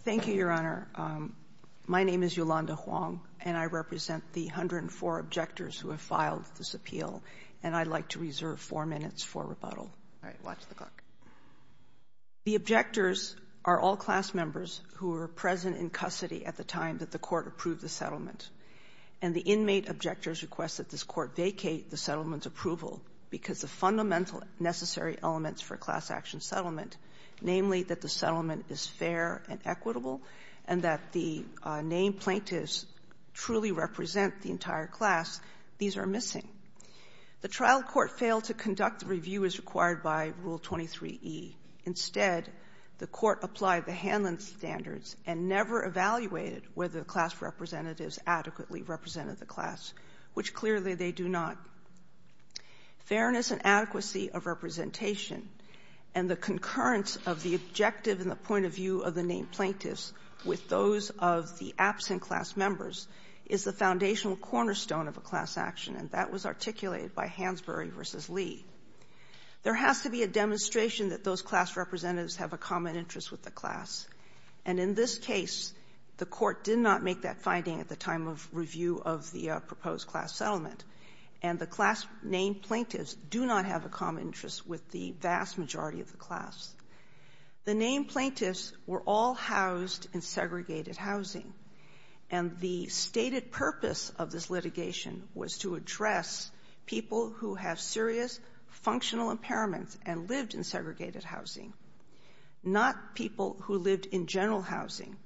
Thank you, Your Honor. My name is Yolanda Huang, and I represent the 104 objectors who have filed this appeal, and I'd like to reserve four minutes for rebuttal. All right, watch the clock. The objectors are all class members who were present in custody at the time that the court approved the settlement, and the inmate objector's request that this court vacate the settlement's approval because of fundamental necessary elements for a class action settlement, namely that the settlement is fair and equitable and that the named plaintiffs truly represent the entire class, these are missing. The trial court failed to conduct the review as required by Rule 23e. Instead, the court applied the Hanlon standards and never evaluated whether the class representatives adequately represented the class, which clearly they do not. Fairness and adequacy of representation and the concurrence of the objective and the point of view of the named plaintiffs with those of the absent class members is the foundational cornerstone of a class action, and that was articulated by Hansberry v. Lee. There has to be a demonstration that those class representatives have a common interest with the class, and in this case, the court did not make that finding at the time of review of the proposed class settlement, and the class named plaintiffs do not have a common interest with the vast majority of the class. The named plaintiffs were all housed in segregated housing, and the stated purpose of this litigation was to address people who have serious functional impairments and lived in segregated housing, not people who lived in general housing.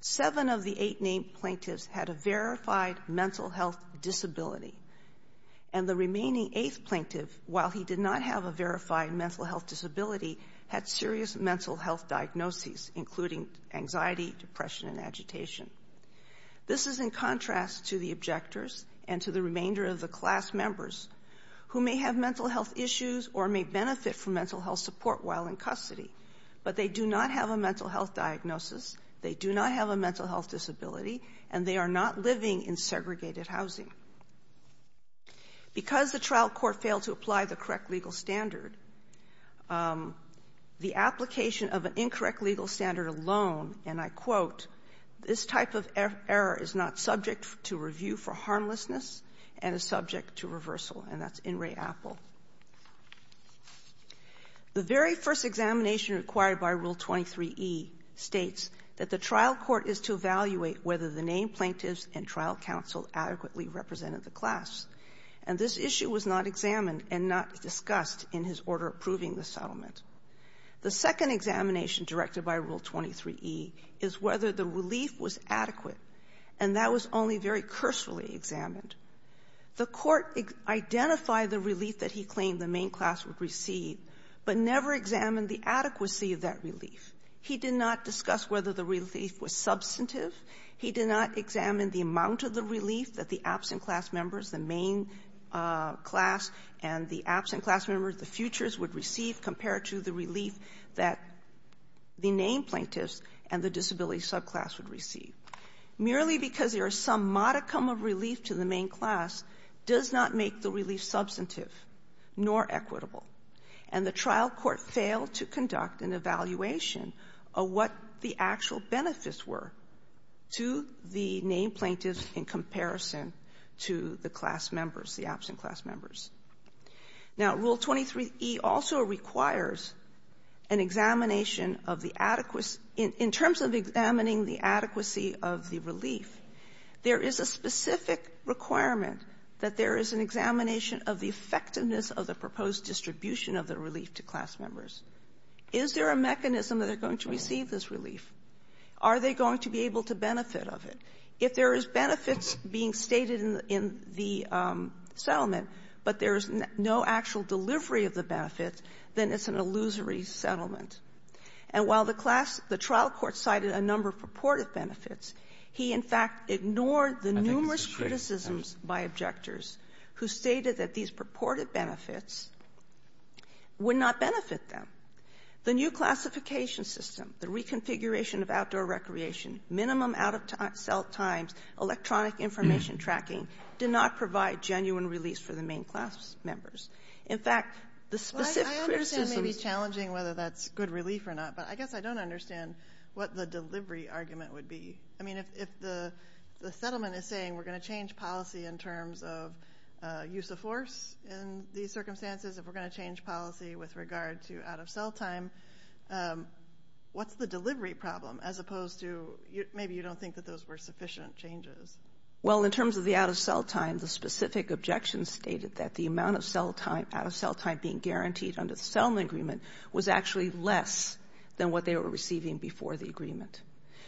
Seven of the eight named plaintiffs had a verified mental health disability, and the remaining eighth plaintiff, while he did not have a verified mental health disability, had serious mental health diagnoses, including anxiety, depression, and agitation. This is in contrast to the objectors and to the remainder of the class members who may have mental health issues or may benefit from mental health support while in custody, but they do not have a mental health diagnosis, they do not have a mental health disability, and they are not living in segregated housing. Because the trial court failed to apply the correct legal standard, the application of an incorrect legal standard alone, and I quote, this type of error is not subject to review for harmlessness and is subject to reversal. And that's in re apple. The very first examination required by Rule 23E states that the trial court is to evaluate whether the named plaintiffs and trial counsel adequately represented the class, and this issue was not examined and not discussed in his order approving the settlement. The second examination directed by Rule 23E is whether the relief was adequate, and that was only very cursefully examined. The court identified the relief that he claimed the main class would receive, but never examined the adequacy of that relief. He did not discuss whether the relief was substantive. He did not examine the amount of the relief that the absent class members, the main class and the absent class members, the Futures, would receive compared to the relief that the named plaintiffs and the disability subclass would receive. Merely because there is some modicum of relief to the main class does not make the relief substantive nor equitable, and the trial court failed to conduct an evaluation of what the actual benefits were to the named plaintiffs in comparison to the class members, the absent class members. Now, Rule 23E also requires an examination of the adequacy in terms of examining the adequacy of the relief. There is a specific requirement that there is an examination of the effectiveness of the proposed distribution of the relief to class members. Is there a mechanism that they're going to receive this relief? Are they going to be able to benefit of it? If there is benefits being stated in the settlement, but there is no actual delivery of the benefits, then it's an illusory settlement. And while the class the trial court cited a number of purported benefits, he, in fact, ignored the numerous criticisms by objectors who stated that these purported benefits would not benefit them. The new classification system, the reconfiguration of outdoor recreation, minimum out-of-cell times, electronic information tracking, did not provide genuine relief for the main class members. Good relief or not, but I guess I don't understand what the delivery argument would be. I mean, if the settlement is saying we're going to change policy in terms of use of force in these circumstances, if we're going to change policy with regard to out-of-cell time, what's the delivery problem as opposed to maybe you don't think that those were sufficient changes? Well, in terms of the out-of-cell time, the specific objection stated that the amount of less than what they were receiving before the agreement.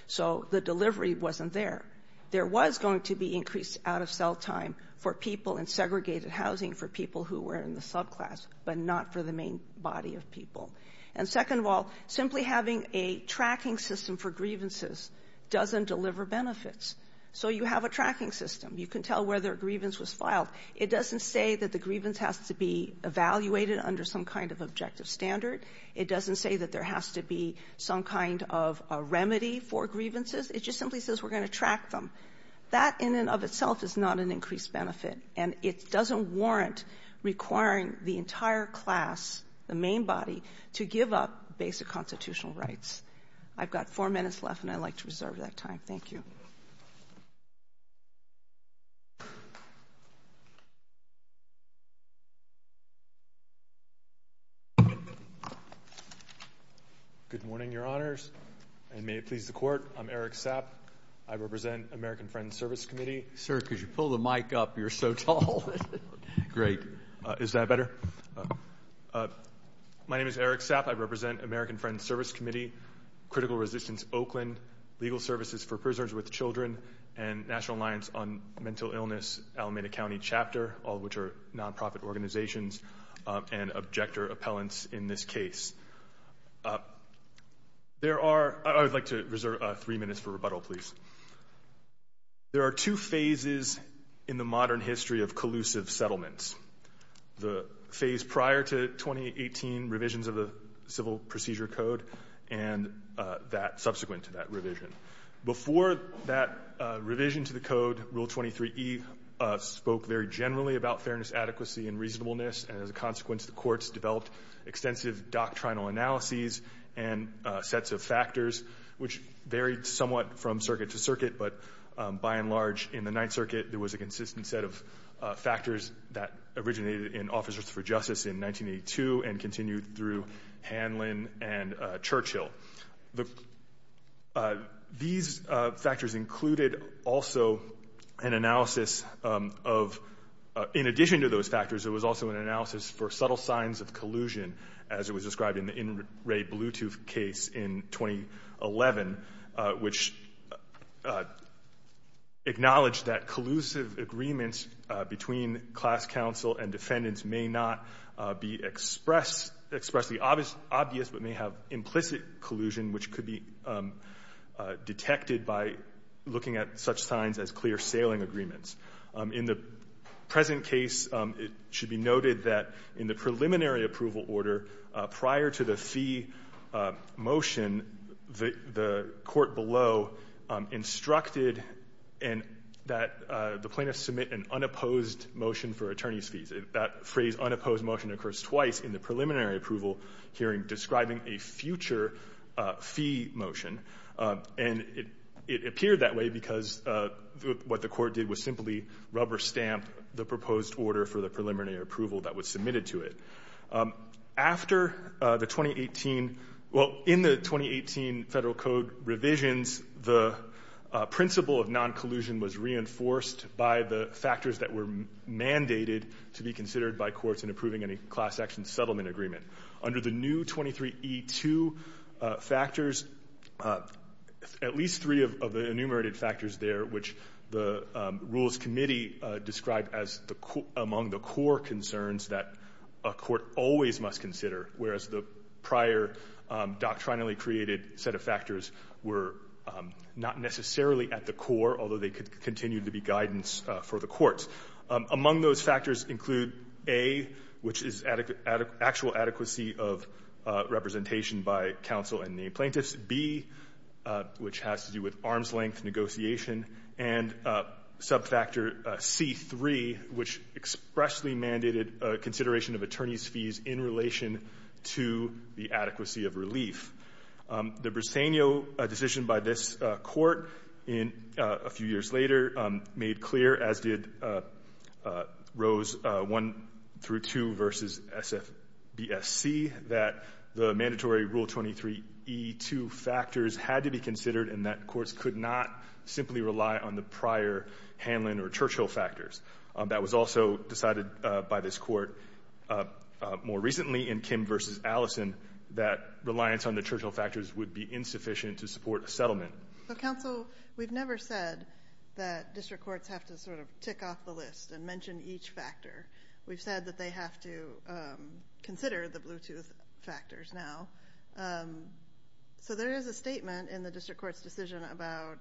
So the delivery wasn't there. There was going to be increased out-of-cell time for people in segregated housing, for people who were in the subclass, but not for the main body of people. And second of all, simply having a tracking system for grievances doesn't deliver benefits. So you have a tracking system. You can tell where their grievance was filed. It doesn't say that the grievance has to be evaluated under some kind of objective standard. It doesn't say that there has to be some kind of a remedy for grievances. It just simply says we're going to track them. That in and of itself is not an increased benefit, and it doesn't warrant requiring the entire class, the main body, to give up basic constitutional rights. I've got four minutes left, and I'd like to reserve that time. Thank you. Thank you. Good morning, Your Honors, and may it please the Court, I'm Eric Sapp. I represent American Friends Service Committee. Sir, could you pull the mic up? You're so tall. Great. Is that better? My name is Eric Sapp. I represent American Friends Service Committee, Critical Resistance Oakland, Legal Services for Prisoners with Children, and National Alliance on Mental Illness, Alameda County Chapter, all of which are nonprofit organizations and objector appellants in this case. I would like to reserve three minutes for rebuttal, please. There are two phases in the modern history of collusive settlements. The phase prior to 2018, revisions of the Civil Procedure Code, and that subsequent to that revision. Before that revision to the code, Rule 23E spoke very generally about fairness, adequacy, and reasonableness, and as a consequence, the courts developed extensive doctrinal analyses and sets of factors, which varied somewhat from circuit to circuit, but by and large, in the Ninth Circuit, there was a consistent set of factors that originated in Officers for Justice in 1982 and continued through Hanlon and Churchill. These factors included also an analysis of, in addition to those factors, there was also an analysis for subtle signs of collusion, as it was described in the In Re Bluetooth case in 2011, which acknowledged that collusive agreements between class counsel and defendants may not be expressly obvious, but may have implicit collusion, which could be detected by looking at such signs as clear sailing agreements. In the present case, it should be noted that in the preliminary approval order, prior to the fee motion, the court below instructed that the plaintiffs submit an unopposed motion for attorney's fees. That phrase, unopposed motion, occurs twice in the preliminary approval hearing, describing a future fee motion, and it appeared that way because what the court did was simply rubber stamp the proposed order for the preliminary approval that was submitted to it. After the 2018, well, in the 2018 Federal Code revisions, the principle of noncollusion was reinforced by the factors that were mandated to be considered by courts in approving any class action settlement agreement. Under the new 23E2 factors, at least three of the enumerated factors there, which the Rules Committee described as among the core concerns that a court always must consider, whereas the prior doctrinally created set of factors were not necessarily at the core, although they could continue to be guidance for the courts. Among those factors include A, which is actual adequacy of representation by counsel and the plaintiffs, B, which has to do with arm's length negotiation, and subfactor C3, which expressly mandated consideration of attorney's fees in relation to the adequacy of relief. The Briseno decision by this court a few years later made clear, as did rows 1 through 2 versus SFBSC, that the mandatory Rule 23E2 factors had to be considered and that courts could not simply rely on the prior Hanlon or Churchill factors. That was also decided by this court more recently in Kim versus Allison that reliance on the Churchill factors would be insufficient to support a settlement. Counsel, we've never said that district courts have to sort of tick off the list and mention each factor. We've said that they have to consider the Bluetooth factors now. So there is a statement in the district court's decision about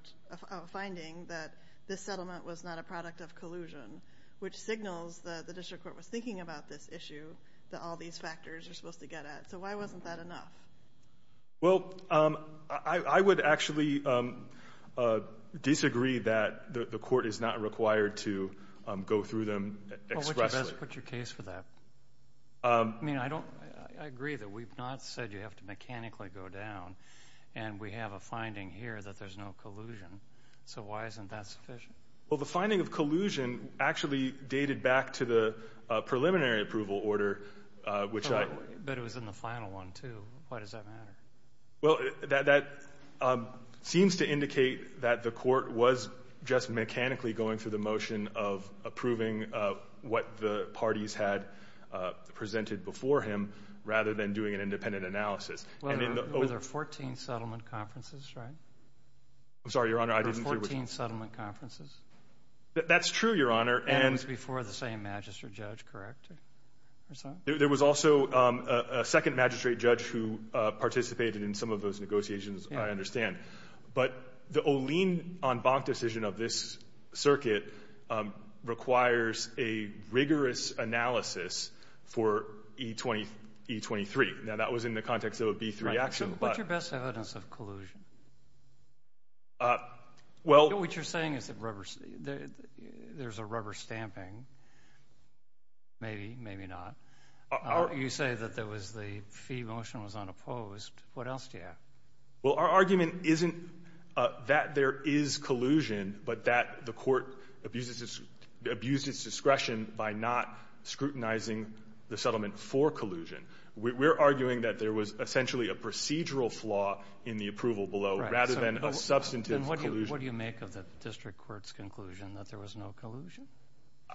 a finding that this settlement was not a product of collusion, which signals that the district court was thinking about this issue, that all these factors are supposed to get at. So why wasn't that enough? Well, I would actually disagree that the court is not required to go through them expressly. Well, what's your case for that? I mean, I agree that we've not said you have to mechanically go down, and we have a finding here that there's no collusion. So why isn't that sufficient? Well, the finding of collusion actually dated back to the preliminary approval order. But it was in the final one, too. Why does that matter? Well, that seems to indicate that the court was just mechanically going through the motion of approving what the parties had presented before him rather than doing an independent analysis. Were there 14 settlement conferences, right? I'm sorry, Your Honor, I didn't hear what you said. Were there 14 settlement conferences? That's true, Your Honor. And it was before the same magistrate judge, correct? There was also a second magistrate judge who participated in some of those negotiations, I understand. But the Olien-On-Bach decision of this circuit requires a rigorous analysis for E23. Now, that was in the context of a B3 action. What's your best evidence of collusion? What you're saying is there's a rubber stamping. Maybe, maybe not. You say that the fee motion was unopposed. What else do you have? Well, our argument isn't that there is collusion, but that the court abused its discretion by not scrutinizing the settlement for collusion. We're arguing that there was essentially a procedural flaw in the approval below rather than a substantive collusion. Then what do you make of the district court's conclusion that there was no collusion?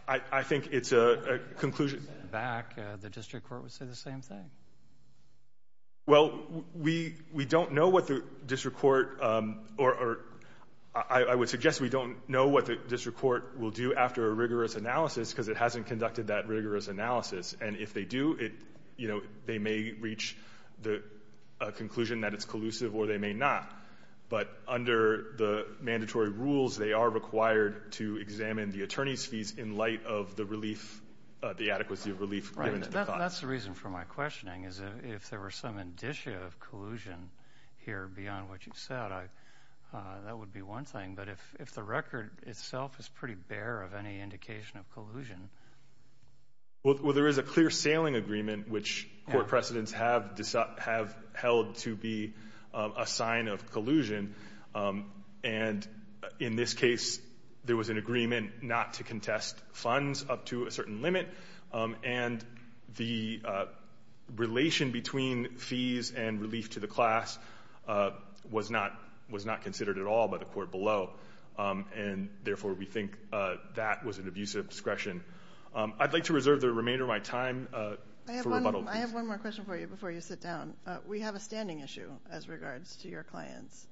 I think it's a conclusion. Back, the district court would say the same thing. Well, we don't know what the district court, or I would suggest we don't know what the district court will do after a rigorous analysis because it hasn't conducted that rigorous analysis. And if they do, they may reach a conclusion that it's collusive or they may not. But under the mandatory rules, they are required to examine the attorney's fees in light of the adequacy of relief. That's the reason for my questioning, is if there were some indicia of collusion here beyond what you've said, that would be one thing. But if the record itself is pretty bare of any indication of collusion. Well, there is a clear sailing agreement, which court precedents have held to be a sign of collusion. And in this case, there was an agreement not to contest funds up to a certain limit. And the relation between fees and relief to the class was not considered at all by the court below. And, therefore, we think that was an abuse of discretion. I'd like to reserve the remainder of my time for rebuttal. I have one more question for you before you sit down. We have a standing issue as regards to your clients.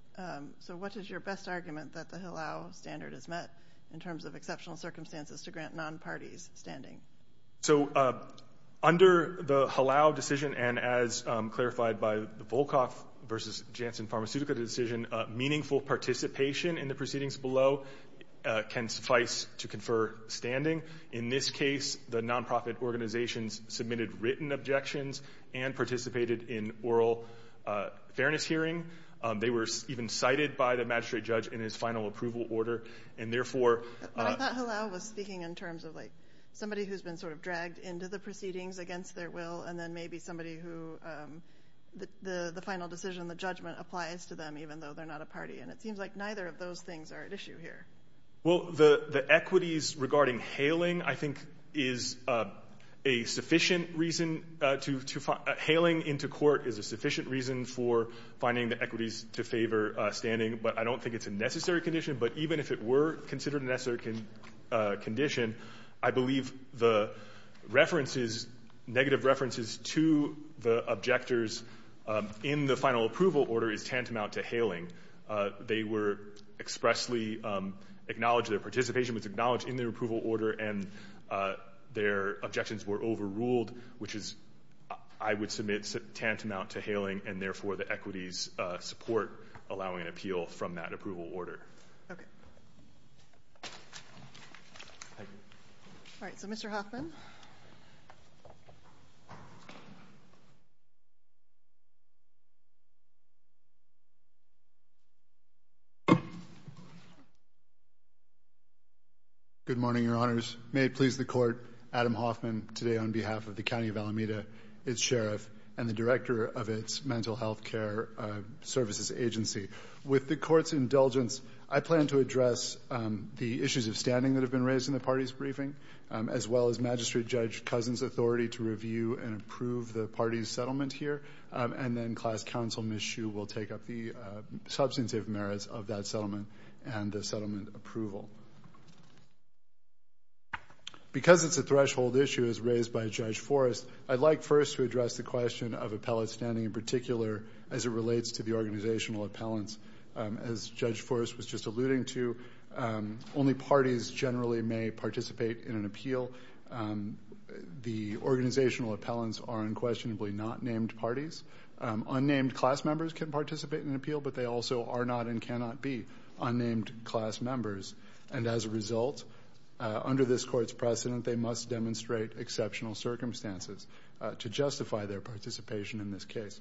So what is your best argument that the Hillel standard is met in terms of exceptional circumstances to grant non-parties standing? So under the Hillel decision, and as clarified by the Volkoff v. Janssen pharmaceutical decision, meaningful participation in the proceedings below can suffice to confer standing. In this case, the nonprofit organizations submitted written objections and participated in oral fairness hearing. They were even cited by the magistrate judge in his final approval order, and, therefore – But I thought Hillel was speaking in terms of, like, somebody who's been sort of dragged into the proceedings against their will and then maybe somebody who the final decision, the judgment, applies to them even though they're not a party. And it seems like neither of those things are at issue here. Well, the equities regarding hailing, I think, is a sufficient reason to – hailing into court is a sufficient reason for finding the equities to favor standing. But I don't think it's a necessary condition. But even if it were considered a necessary condition, I believe the references, negative references to the objectors in the final approval order is tantamount to hailing. They were expressly acknowledged. Their participation was acknowledged in their approval order, and their objections were overruled, which is, I would submit, tantamount to hailing, and, therefore, the equities support allowing an appeal from that approval order. Okay. Thank you. All right, so Mr. Hoffman. Good morning, Your Honors. May it please the Court, Adam Hoffman, today on behalf of the County of Alameda, its sheriff, and the director of its mental health care services agency. With the Court's indulgence, I plan to address the issues of standing that have been raised in the party's briefing, as well as Magistrate Judge Cousin's authority to review and approve the party's settlement here. And then Class Counsel Ms. Hsu will take up the substantive merits of that settlement and the settlement approval. Because it's a threshold issue as raised by Judge Forrest, I'd like first to address the question of appellate standing in particular as it relates to the organizational appellants. As Judge Forrest was just alluding to, only parties generally may participate in an appeal. The organizational appellants are unquestionably not named parties. Unnamed class members can participate in an appeal, but they also are not and cannot be unnamed class members. And as a result, under this Court's precedent, they must demonstrate exceptional circumstances to justify their participation in this case.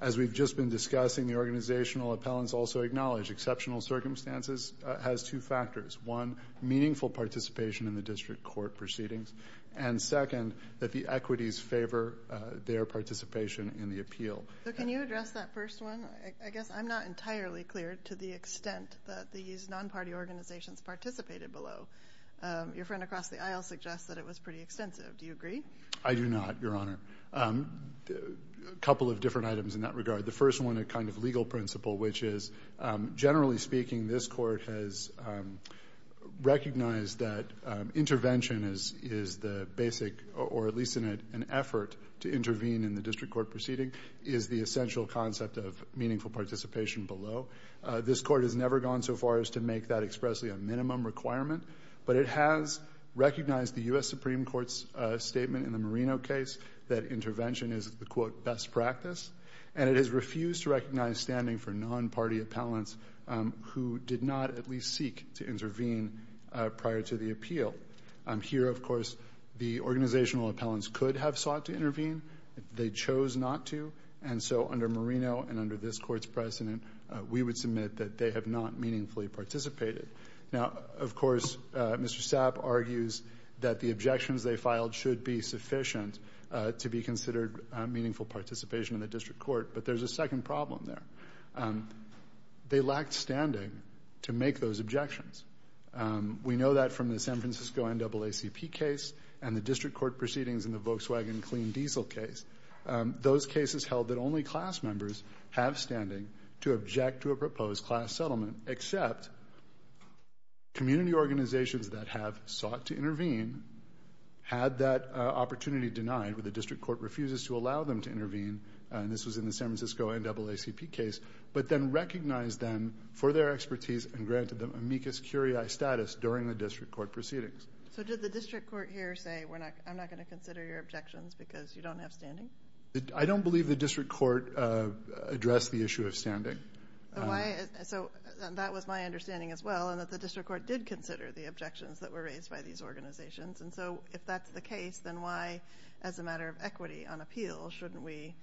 As we've just been discussing, the organizational appellants also acknowledge exceptional circumstances has two factors. One, meaningful participation in the district court proceedings. And second, that the equities favor their participation in the appeal. So can you address that first one? I guess I'm not entirely clear to the extent that these non-party organizations participated below. Your friend across the aisle suggests that it was pretty extensive. Do you agree? I do not, Your Honor. A couple of different items in that regard. The first one, a kind of legal principle, which is generally speaking, this Court has recognized that intervention is the basic, or at least in an effort to intervene in the district court proceeding, is the essential concept of meaningful participation below. This Court has never gone so far as to make that expressly a minimum requirement, but it has recognized the U.S. Supreme Court's statement in the Marino case that intervention is the, quote, best practice, and it has refused to recognize standing for non-party appellants who did not at least seek to intervene prior to the appeal. Here, of course, the organizational appellants could have sought to intervene. They chose not to, and so under Marino and under this Court's precedent, we would submit that they have not meaningfully participated. Now, of course, Mr. Sapp argues that the objections they filed should be sufficient to be considered meaningful participation in the district court, but there's a second problem there. They lacked standing to make those objections. We know that from the San Francisco NAACP case and the district court proceedings in the Volkswagen clean diesel case. Those cases held that only class members have standing to object to a proposed class settlement, except community organizations that have sought to intervene had that opportunity denied, but the district court refuses to allow them to intervene, and this was in the San Francisco NAACP case, but then recognized them for their expertise and granted them amicus curiae status during the district court proceedings. So did the district court here say, I'm not going to consider your objections because you don't have standing? I don't believe the district court addressed the issue of standing. So that was my understanding as well, and that the district court did consider the objections that were raised by these organizations, and so if that's the case, then why, as a matter of equity on appeal, shouldn't we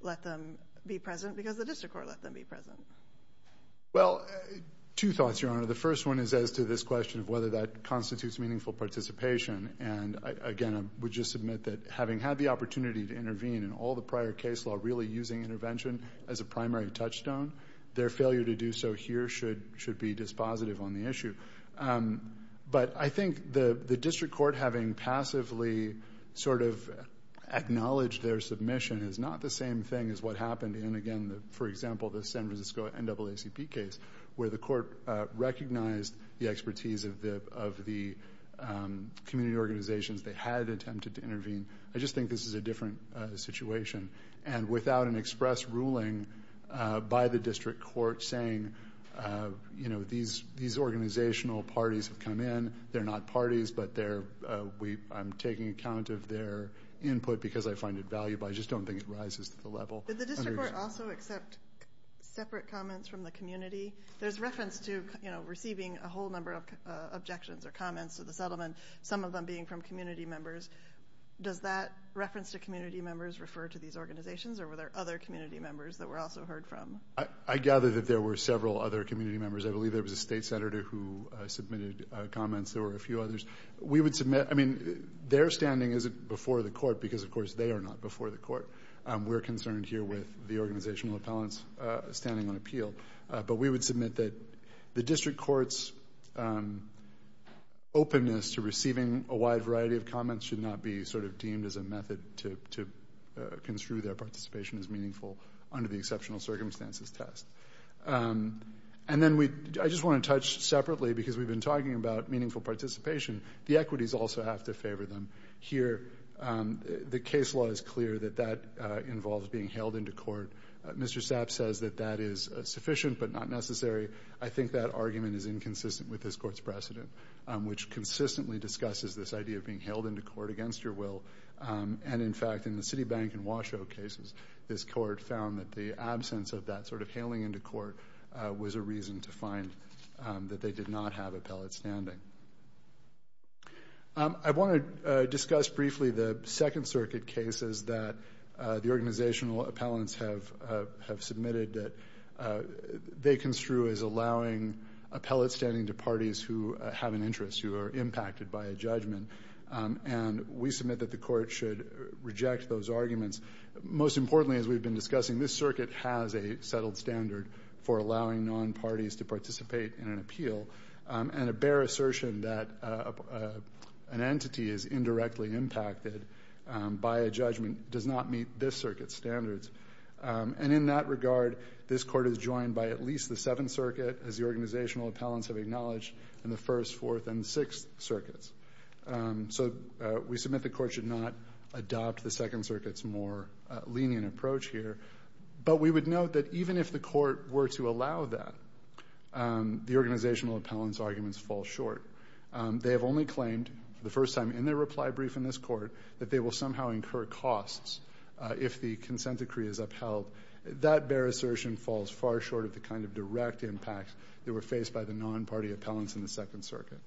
let them be present because the district court let them be present? Well, two thoughts, Your Honor. The first one is as to this question of whether that constitutes meaningful participation, and again, I would just submit that having had the opportunity to intervene in all the prior case law really using intervention as a primary touchstone, their failure to do so here should be dispositive on the issue. But I think the district court having passively sort of acknowledged their submission is not the same thing as what happened in, again, for example, the San Francisco NAACP case where the court recognized the expertise of the community organizations. They had attempted to intervene. I just think this is a different situation. And without an express ruling by the district court saying, you know, these organizational parties have come in. They're not parties, but I'm taking account of their input because I find it valuable. I just don't think it rises to the level. Did the district court also accept separate comments from the community? There's reference to, you know, receiving a whole number of objections or comments to the settlement, some of them being from community members. Does that reference to community members refer to these organizations or were there other community members that were also heard from? I gather that there were several other community members. I believe there was a state senator who submitted comments. There were a few others. I mean, their standing isn't before the court because, of course, they are not before the court. We're concerned here with the organizational appellants standing on appeal. But we would submit that the district court's openness to receiving a wide variety of comments should not be sort of deemed as a method to construe their participation as meaningful under the exceptional circumstances test. And then I just want to touch separately because we've been talking about meaningful participation. The equities also have to favor them. Here, the case law is clear that that involves being hailed into court. Mr. Sapp says that that is sufficient but not necessary. I think that argument is inconsistent with this court's precedent, which consistently discusses this idea of being hailed into court against your will. And, in fact, in the Citibank and Washoe cases, this court found that the absence of that sort of hailing into court was a reason to find that they did not have appellate standing. I want to discuss briefly the Second Circuit cases that the organizational appellants have submitted that they construe as allowing appellate standing to parties who have an interest, who are impacted by a judgment. And we submit that the court should reject those arguments. Most importantly, as we've been discussing, this circuit has a settled standard for allowing non-parties to participate in an appeal. And a bare assertion that an entity is indirectly impacted by a judgment does not meet this circuit's standards. And in that regard, this court is joined by at least the Seventh Circuit, as the organizational appellants have acknowledged, and the First, Fourth, and Sixth Circuits. So we submit the court should not adopt the Second Circuit's more lenient approach here. But we would note that even if the court were to allow that, the organizational appellants' arguments fall short. They have only claimed, for the first time in their reply brief in this court, that they will somehow incur costs if the consent decree is upheld. That bare assertion falls far short of the kind of direct impact they were faced by the non-party appellants in the Second Circuit.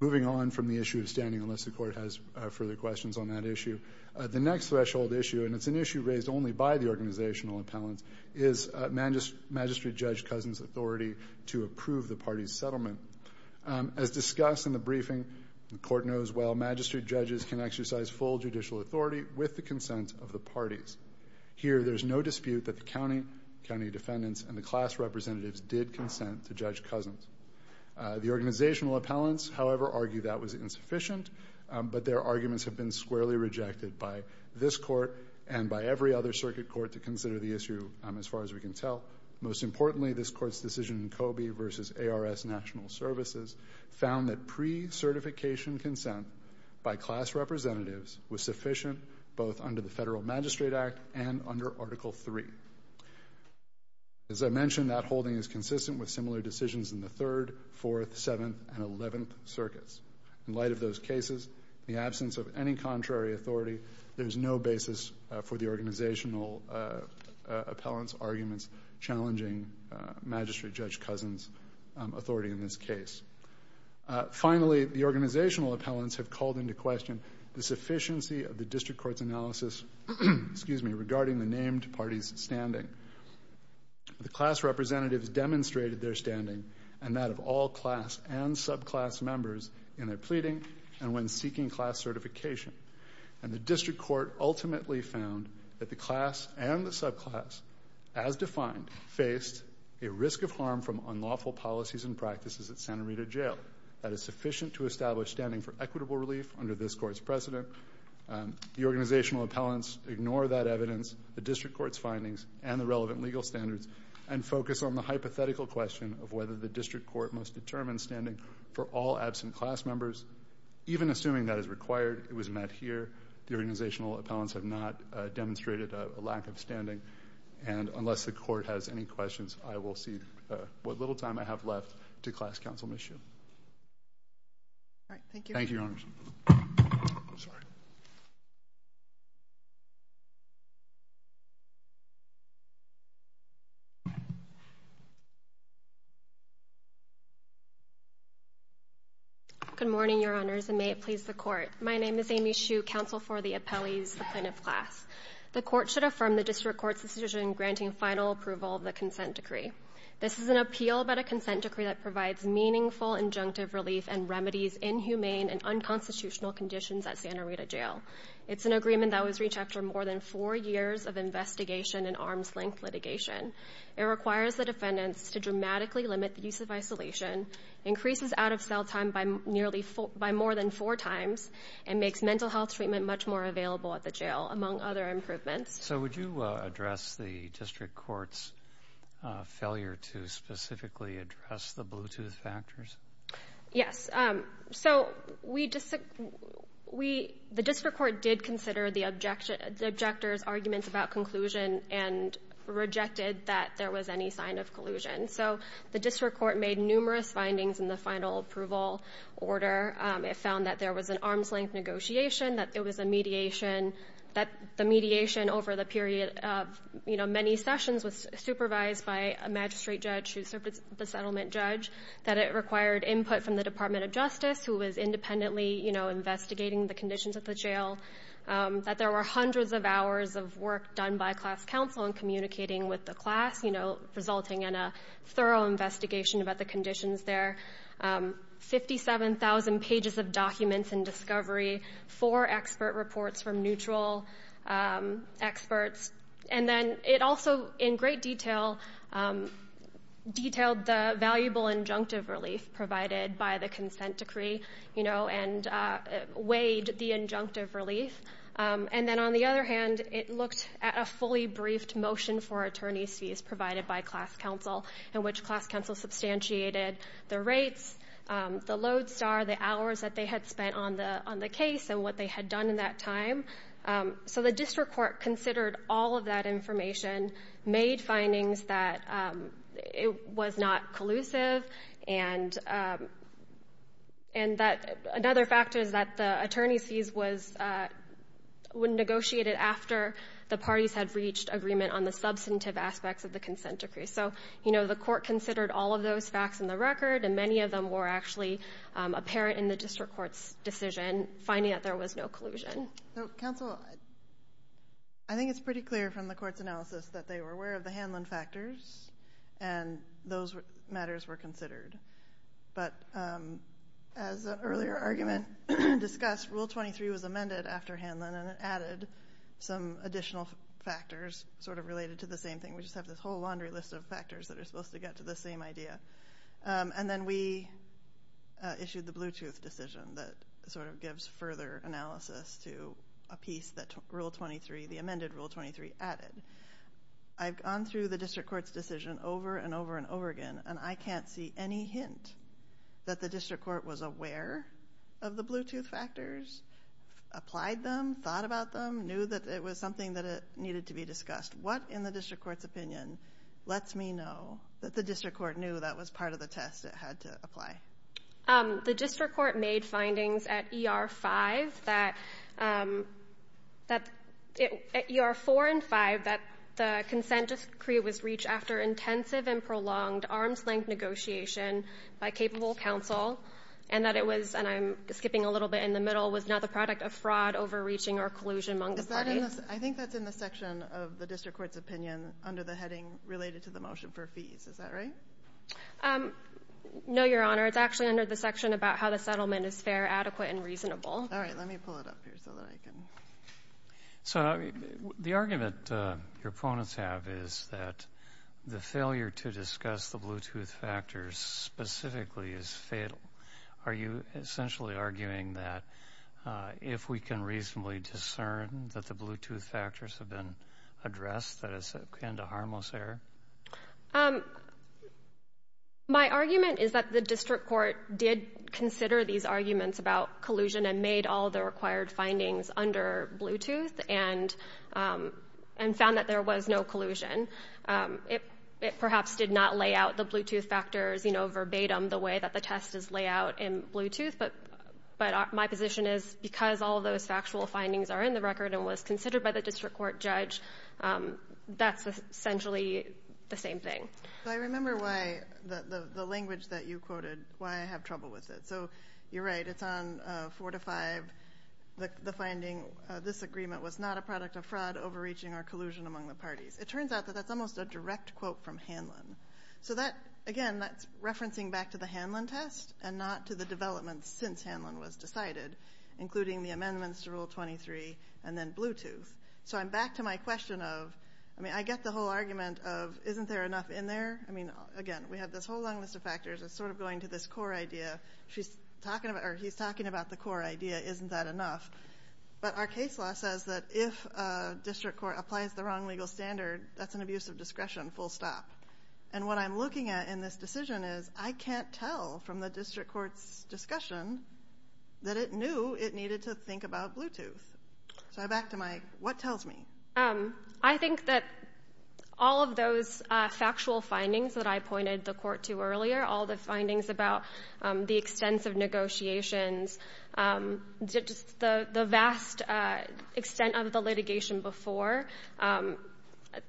Moving on from the issue of standing, unless the court has further questions on that issue, the next threshold issue, and it's an issue raised only by the organizational appellants, is Magistrate Judge Cousin's authority to approve the party's settlement. As discussed in the briefing, the court knows well, magistrate judges can exercise full judicial authority with the consent of the parties. Here, there's no dispute that the county defendants and the class representatives did consent to Judge Cousin's. The organizational appellants, however, argue that was insufficient, but their arguments have been squarely rejected by this court and by every other circuit court to consider the issue, as far as we can tell. Most importantly, this court's decision in Coby v. ARS National Services found that pre-certification consent by class representatives was sufficient, both under the Federal Magistrate Act and under Article III. As I mentioned, that holding is consistent with similar decisions in the Third, Fourth, Seventh, and Eleventh Circuits. In light of those cases, in the absence of any contrary authority, there's no basis for the organizational appellants' arguments challenging Magistrate Judge Cousin's authority in this case. Finally, the organizational appellants have called into question the sufficiency of the district court's analysis regarding the named parties' standing. The class representatives demonstrated their standing, and that of all class and subclass members, in their pleading and when seeking class certification. And the district court ultimately found that the class and the subclass, as defined, faced a risk of harm from unlawful policies and practices at Santa Rita Jail that is sufficient to establish standing for equitable relief under this court's precedent. The organizational appellants ignore that evidence, the district court's findings, and the relevant legal standards and focus on the hypothetical question of whether the district court must determine standing for all absent class members. Even assuming that is required, it was met here. The organizational appellants have not demonstrated a lack of standing. And unless the court has any questions, I will cede what little time I have left to Class Counsel Ms. Hsu. All right, thank you. Thank you, Your Honors. I'm sorry. Good morning, Your Honors, and may it please the Court. My name is Amy Hsu, counsel for the appellees, the plaintiff class. The court should affirm the district court's decision granting final approval of the consent decree. This is an appeal about a consent decree that provides meaningful injunctive relief and remedies inhumane and unconstitutional conditions at Santa Rita Jail. It's an agreement that was reached after more than four years of investigation and arms-length litigation. It requires the defendants to dramatically limit the use of isolation, increases out-of-cell time by more than four times, and makes mental health treatment much more available at the jail, among other improvements. So would you address the district court's failure to specifically address the Bluetooth factors? Yes. So the district court did consider the objector's arguments about conclusion and rejected that there was any sign of collusion. So the district court made numerous findings in the final approval order. It found that there was an arms-length negotiation, that there was a mediation, that the mediation over the period of, you know, many sessions was supervised by a magistrate judge who served as the settlement judge, that it required input from the Department of Justice, who was independently, you know, investigating the conditions at the jail, that there were hundreds of hours of work done by class counsel in communicating with the class, you know, resulting in a thorough investigation about the conditions there. 57,000 pages of documents in discovery, four expert reports from neutral experts. And then it also, in great detail, detailed the valuable injunctive relief provided by the consent decree, you know, and weighed the injunctive relief. And then on the other hand, it looked at a fully briefed motion for attorney's fees provided by class counsel in which class counsel substantiated the rates, the load star, the hours that they had spent on the case and what they had done in that time. So the district court considered all of that information, made findings that it was not collusive, and that another factor is that the attorney's fees was negotiated after the parties had reached agreement on the substantive aspects of the consent decree. So, you know, the court considered all of those facts in the record, and many of them were actually apparent in the district court's decision, finding that there was no collusion. So, counsel, I think it's pretty clear from the court's analysis that they were aware of the Hanlon factors, and those matters were considered. But as the earlier argument discussed, Rule 23 was amended after Hanlon, and it added some additional factors sort of related to the same thing. We just have this whole laundry list of factors that are supposed to get to the same idea. And then we issued the Bluetooth decision that sort of gives further analysis to a piece that Rule 23, the amended Rule 23, added. I've gone through the district court's decision over and over and over again, and I can't see any hint that the district court was aware of the Bluetooth factors, applied them, thought about them, knew that it was something that needed to be discussed. What, in the district court's opinion, lets me know that the district court knew that was part of the test it had to apply? The district court made findings at ER 4 and 5 that the consent decree was reached after intensive and prolonged arms-length negotiation by capable counsel, and that it was, and I'm skipping a little bit in the middle, was not the product of fraud, overreaching, or collusion among the parties. I think that's in the section of the district court's opinion under the heading related to the motion for fees. Is that right? No, Your Honor. It's actually under the section about how the settlement is fair, adequate, and reasonable. All right. Let me pull it up here so that I can. So the argument your opponents have is that the failure to discuss the Bluetooth factors specifically is fatal. Are you essentially arguing that if we can reasonably discern that the Bluetooth factors have been addressed, that it's a kind of harmless error? My argument is that the district court did consider these arguments about collusion and made all the required findings under Bluetooth and found that there was no collusion. It perhaps did not lay out the Bluetooth factors verbatim the way that the test is laid out in Bluetooth, but my position is because all those factual findings are in the record and was considered by the district court judge, that's essentially the same thing. I remember why the language that you quoted, why I have trouble with it. So you're right. It's on 4 to 5, the finding, this agreement was not a product of fraud, overreaching, or collusion among the parties. It turns out that that's almost a direct quote from Hanlon. So, again, that's referencing back to the Hanlon test and not to the developments since Hanlon was decided, including the amendments to Rule 23 and then Bluetooth. So I'm back to my question of, I mean, I get the whole argument of isn't there enough in there? I mean, again, we have this whole long list of factors. It's sort of going to this core idea. He's talking about the core idea, isn't that enough? But our case law says that if a district court applies the wrong legal standard, that's an abuse of discretion, full stop. And what I'm looking at in this decision is I can't tell from the district court's discussion that it knew it needed to think about Bluetooth. So I'm back to my, what tells me? I think that all of those factual findings that I pointed the court to earlier, all the findings about the extensive negotiations, the vast extent of the litigation before,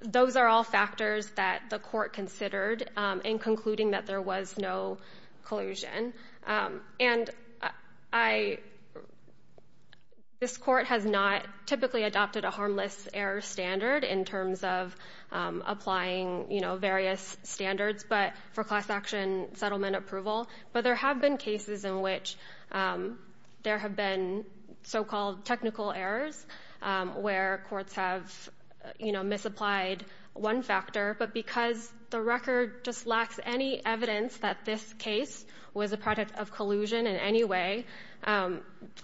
those are all factors that the court considered in concluding that there was no collusion. And this court has not typically adopted a harmless error standard in terms of applying various standards, but for class action settlement approval. But there have been cases in which there have been so-called technical errors where courts have misapplied one factor. But because the record just lacks any evidence that this case was a product of collusion in any way,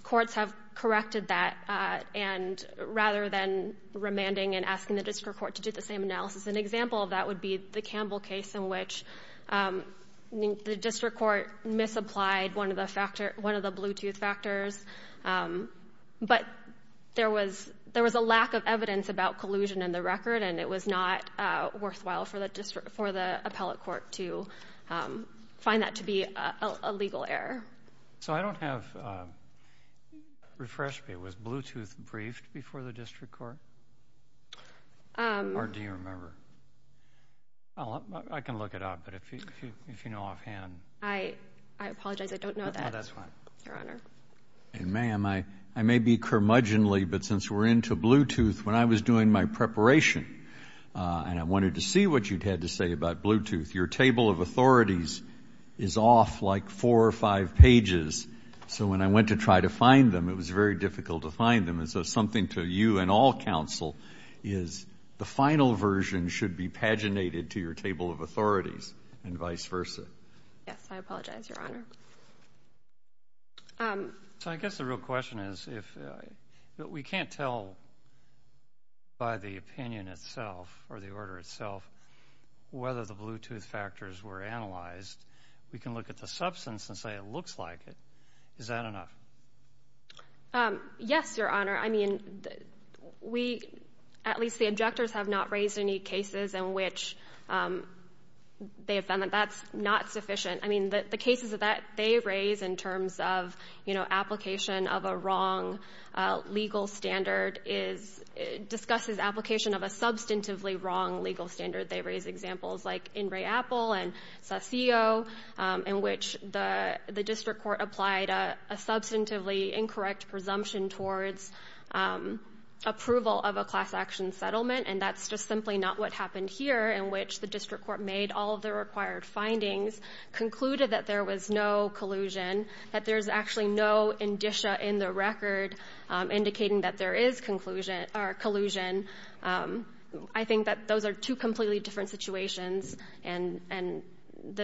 courts have corrected that. And rather than remanding and asking the district court to do the same analysis, an example of that would be the Campbell case in which the district court misapplied one of the Bluetooth factors. But there was a lack of evidence about collusion in the record, and it was not worthwhile for the appellate court to find that to be a legal error. So I don't have – refresh me. Was Bluetooth briefed before the district court? Or do you remember? I can look it up, but if you know offhand. I apologize. I don't know that, Your Honor. Ma'am, I may be curmudgeonly, but since we're into Bluetooth, when I was doing my preparation and I wanted to see what you had to say about Bluetooth, your table of authorities is off like four or five pages. So when I went to try to find them, it was very difficult to find them. And so something to you and all counsel is the final version should be paginated to your table of authorities and vice versa. Yes, I apologize, Your Honor. So I guess the real question is we can't tell by the opinion itself or the order itself whether the Bluetooth factors were analyzed. We can look at the substance and say it looks like it. Is that enough? Yes, Your Honor. I mean, we – at least the objectors have not raised any cases in which they have found that that's not sufficient. I mean, the cases that they raise in terms of, you know, application of a wrong legal standard discusses application of a substantively wrong legal standard. They raise examples like In Re Appel and Saseo, in which the district court applied a substantively incorrect presumption towards approval of a class action settlement, and that's just simply not what happened here, in which the district court made all of the required findings, concluded that there was no collusion, that there's actually no indicia in the record indicating that there is collusion. I think that those are two completely different situations, and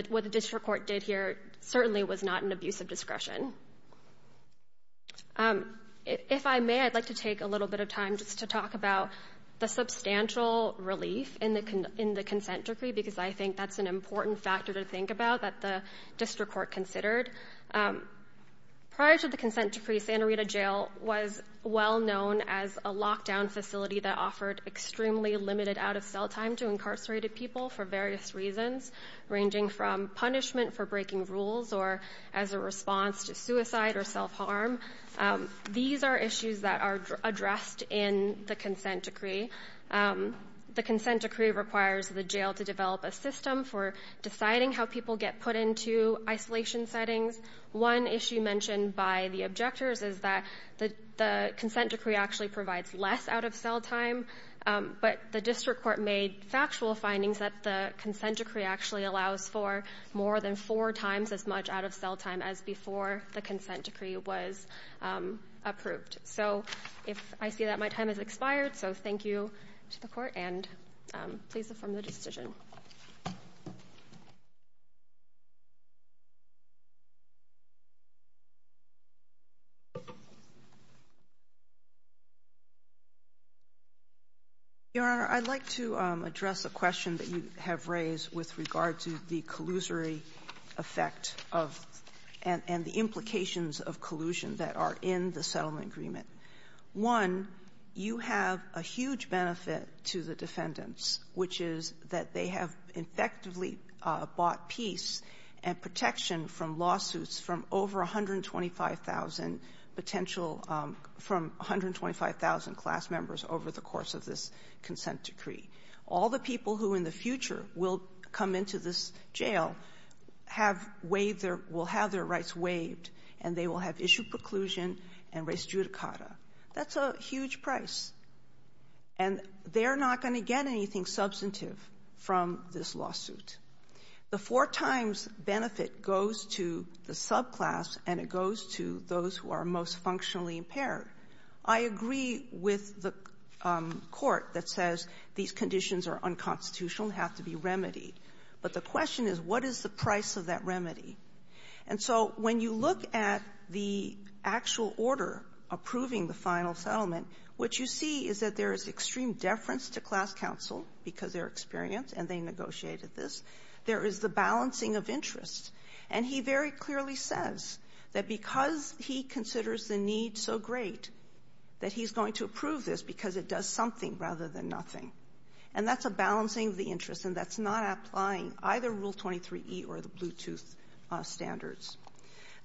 what the district court did here certainly was not an abuse of discretion. If I may, I'd like to take a little bit of time just to talk about the substantial relief in the consent decree, because I think that's an important factor to think about that the district court considered. Prior to the consent decree, Santa Rita Jail was well known as a lockdown facility that offered extremely limited out-of-cell time to incarcerated people for various reasons, ranging from punishment for breaking rules or as a response to suicide or self-harm. These are issues that are addressed in the consent decree. The consent decree requires the jail to develop a system for deciding how people get put into isolation settings. One issue mentioned by the objectors is that the consent decree actually provides less out-of-cell time, but the district court made factual findings that the consent decree actually allows for more than four times as much out-of-cell time as before the consent decree was approved. So if I see that, my time has expired, so thank you to the court, and please affirm the decision. Your Honor, I'd like to address a question that you have raised with regard to the collusory effect and the implications of collusion that are in the settlement agreement. One, you have a huge benefit to the defendants, which is that they have effectively bought peace and protection from lawsuits from over 125,000 potential from 125,000 class members over the course of this consent decree. All the people who in the future will come into this jail will have their rights waived, and they will have issue preclusion and res judicata. That's a huge price. And they're not going to get anything substantive from this lawsuit. The four times benefit goes to the subclass, and it goes to those who are most functionally impaired. I agree with the court that says these conditions are unconstitutional and have to be remedied. But the question is, what is the price of that remedy? And so when you look at the actual order approving the final settlement, what you see is that there is extreme deference to class counsel because they're experienced and they negotiated this. There is the balancing of interests. And he very clearly says that because he considers the need so great that he's going to approve this because it does something rather than nothing. And that's a balancing of the interests, and that's not applying either Rule 23e or the Bluetooth standards.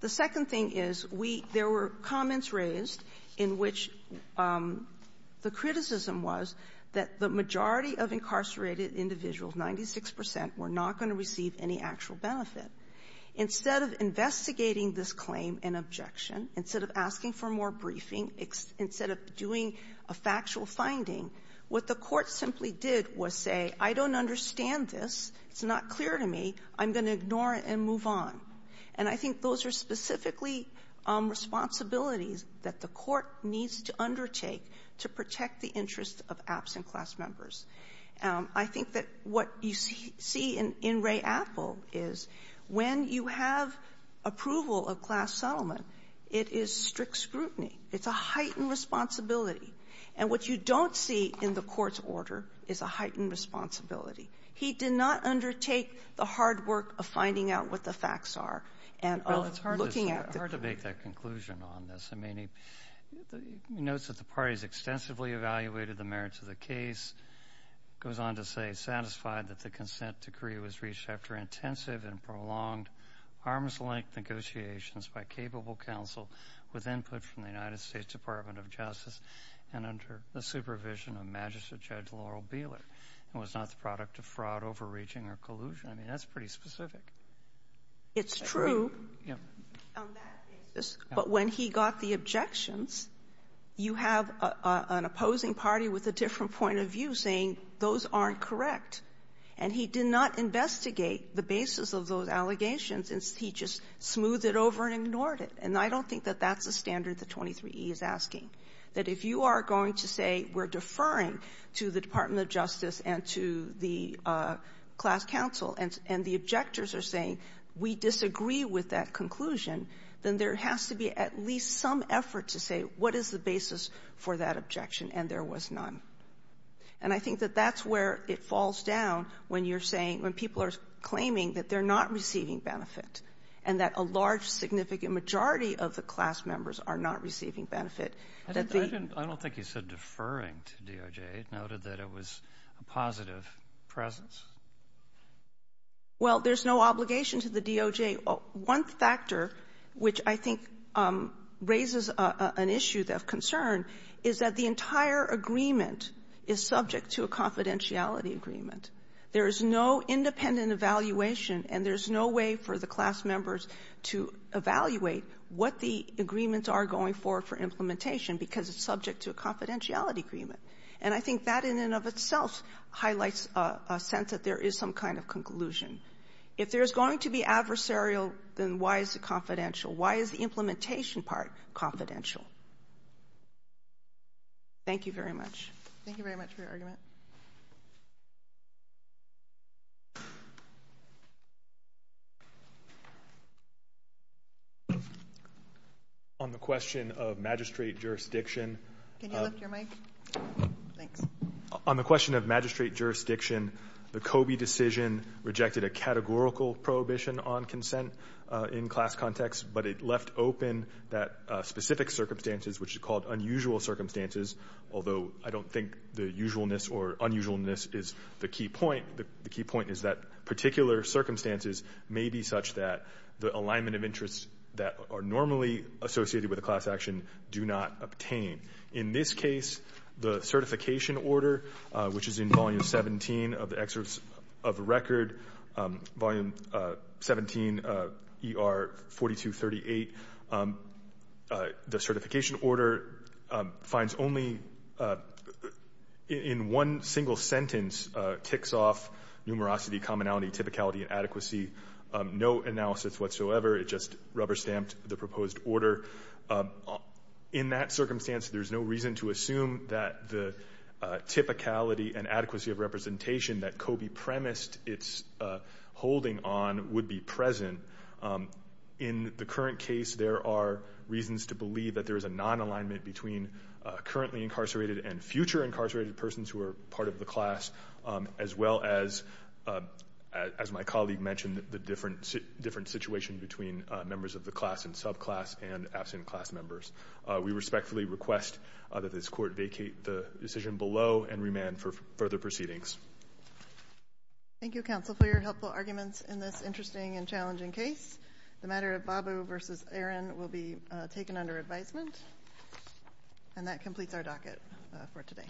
The second thing is we – there were comments raised in which the criticism was that the majority of incarcerated individuals, 96 percent, were not going to receive any actual benefit. Instead of investigating this claim and objection, instead of asking for more briefing, instead of doing a factual finding, what the court simply did was say, I don't understand this, it's not clear to me, I'm going to ignore it and move on. And I think those are specifically responsibilities that the court needs to undertake to protect the interests of absent class members. I think that what you see in Ray Apple is when you have approval of class settlement, it is strict scrutiny. It's a heightened responsibility. And what you don't see in the court's order is a heightened responsibility. He did not undertake the hard work of finding out what the facts are and of looking at the – It's hard to make that conclusion on this. I mean, he notes that the parties extensively evaluated the merits of the case, goes on to say, satisfied that the consent decree was reached after intensive and prolonged arms-length negotiations by capable counsel with input from the United States Department of Justice and under the supervision of Magistrate Judge Laurel Beeler, and was not the product of fraud, overreaching, or collusion. I mean, that's pretty specific. It's true. Yeah. On that basis. Yeah. But when he got the objections, you have an opposing party with a different point of view saying those aren't correct. And he did not investigate the basis of those allegations. He just smoothed it over and ignored it. And I don't think that that's the standard the 23E is asking, that if you are going to say we're deferring to the we disagree with that conclusion, then there has to be at least some effort to say what is the basis for that objection, and there was none. And I think that that's where it falls down when you're saying – when people are claiming that they're not receiving benefit and that a large, significant majority of the class members are not receiving benefit. I don't think he said deferring to DOJ. He noted that it was a positive presence. Well, there's no obligation to the DOJ. One factor which I think raises an issue of concern is that the entire agreement is subject to a confidentiality agreement. There is no independent evaluation, and there's no way for the class members to evaluate what the agreements are going forward for implementation because it's subject to a confidentiality agreement. And I think that in and of itself highlights a sense that there is some kind of conclusion. If there's going to be adversarial, then why is it confidential? Why is the implementation part confidential? Thank you very much. Thank you very much for your argument. On the question of magistrate jurisdiction – Can you lift your mic? Thanks. On the question of magistrate jurisdiction, the Coby decision rejected a categorical prohibition on consent in class context, but it left open that specific circumstances, which is called unusual circumstances, although I don't think the usualness or unusualness is the key point. The key point is that particular circumstances may be such that the alignment of interests that are normally associated with a class action do not obtain. In this case, the certification order, which is in Volume 17 of the excerpts of the record, Volume 17, ER 4238, the certification order finds that only in one single sentence kicks off numerosity, commonality, typicality, and adequacy. No analysis whatsoever. It just rubber-stamped the proposed order. In that circumstance, there's no reason to assume that the typicality and adequacy of representation that Coby premised its holding on would be present. In the current case, there are reasons to believe that there is a non-alignment between currently incarcerated and future incarcerated persons who are part of the class, as well as, as my colleague mentioned, the different situation between members of the class and subclass and absent class members. We respectfully request that this Court vacate the decision below and remand for further proceedings. Thank you, counsel, for your helpful arguments in this interesting and challenging case. The matter of Babu v. Aaron will be taken under advisement. And that completes our docket for today.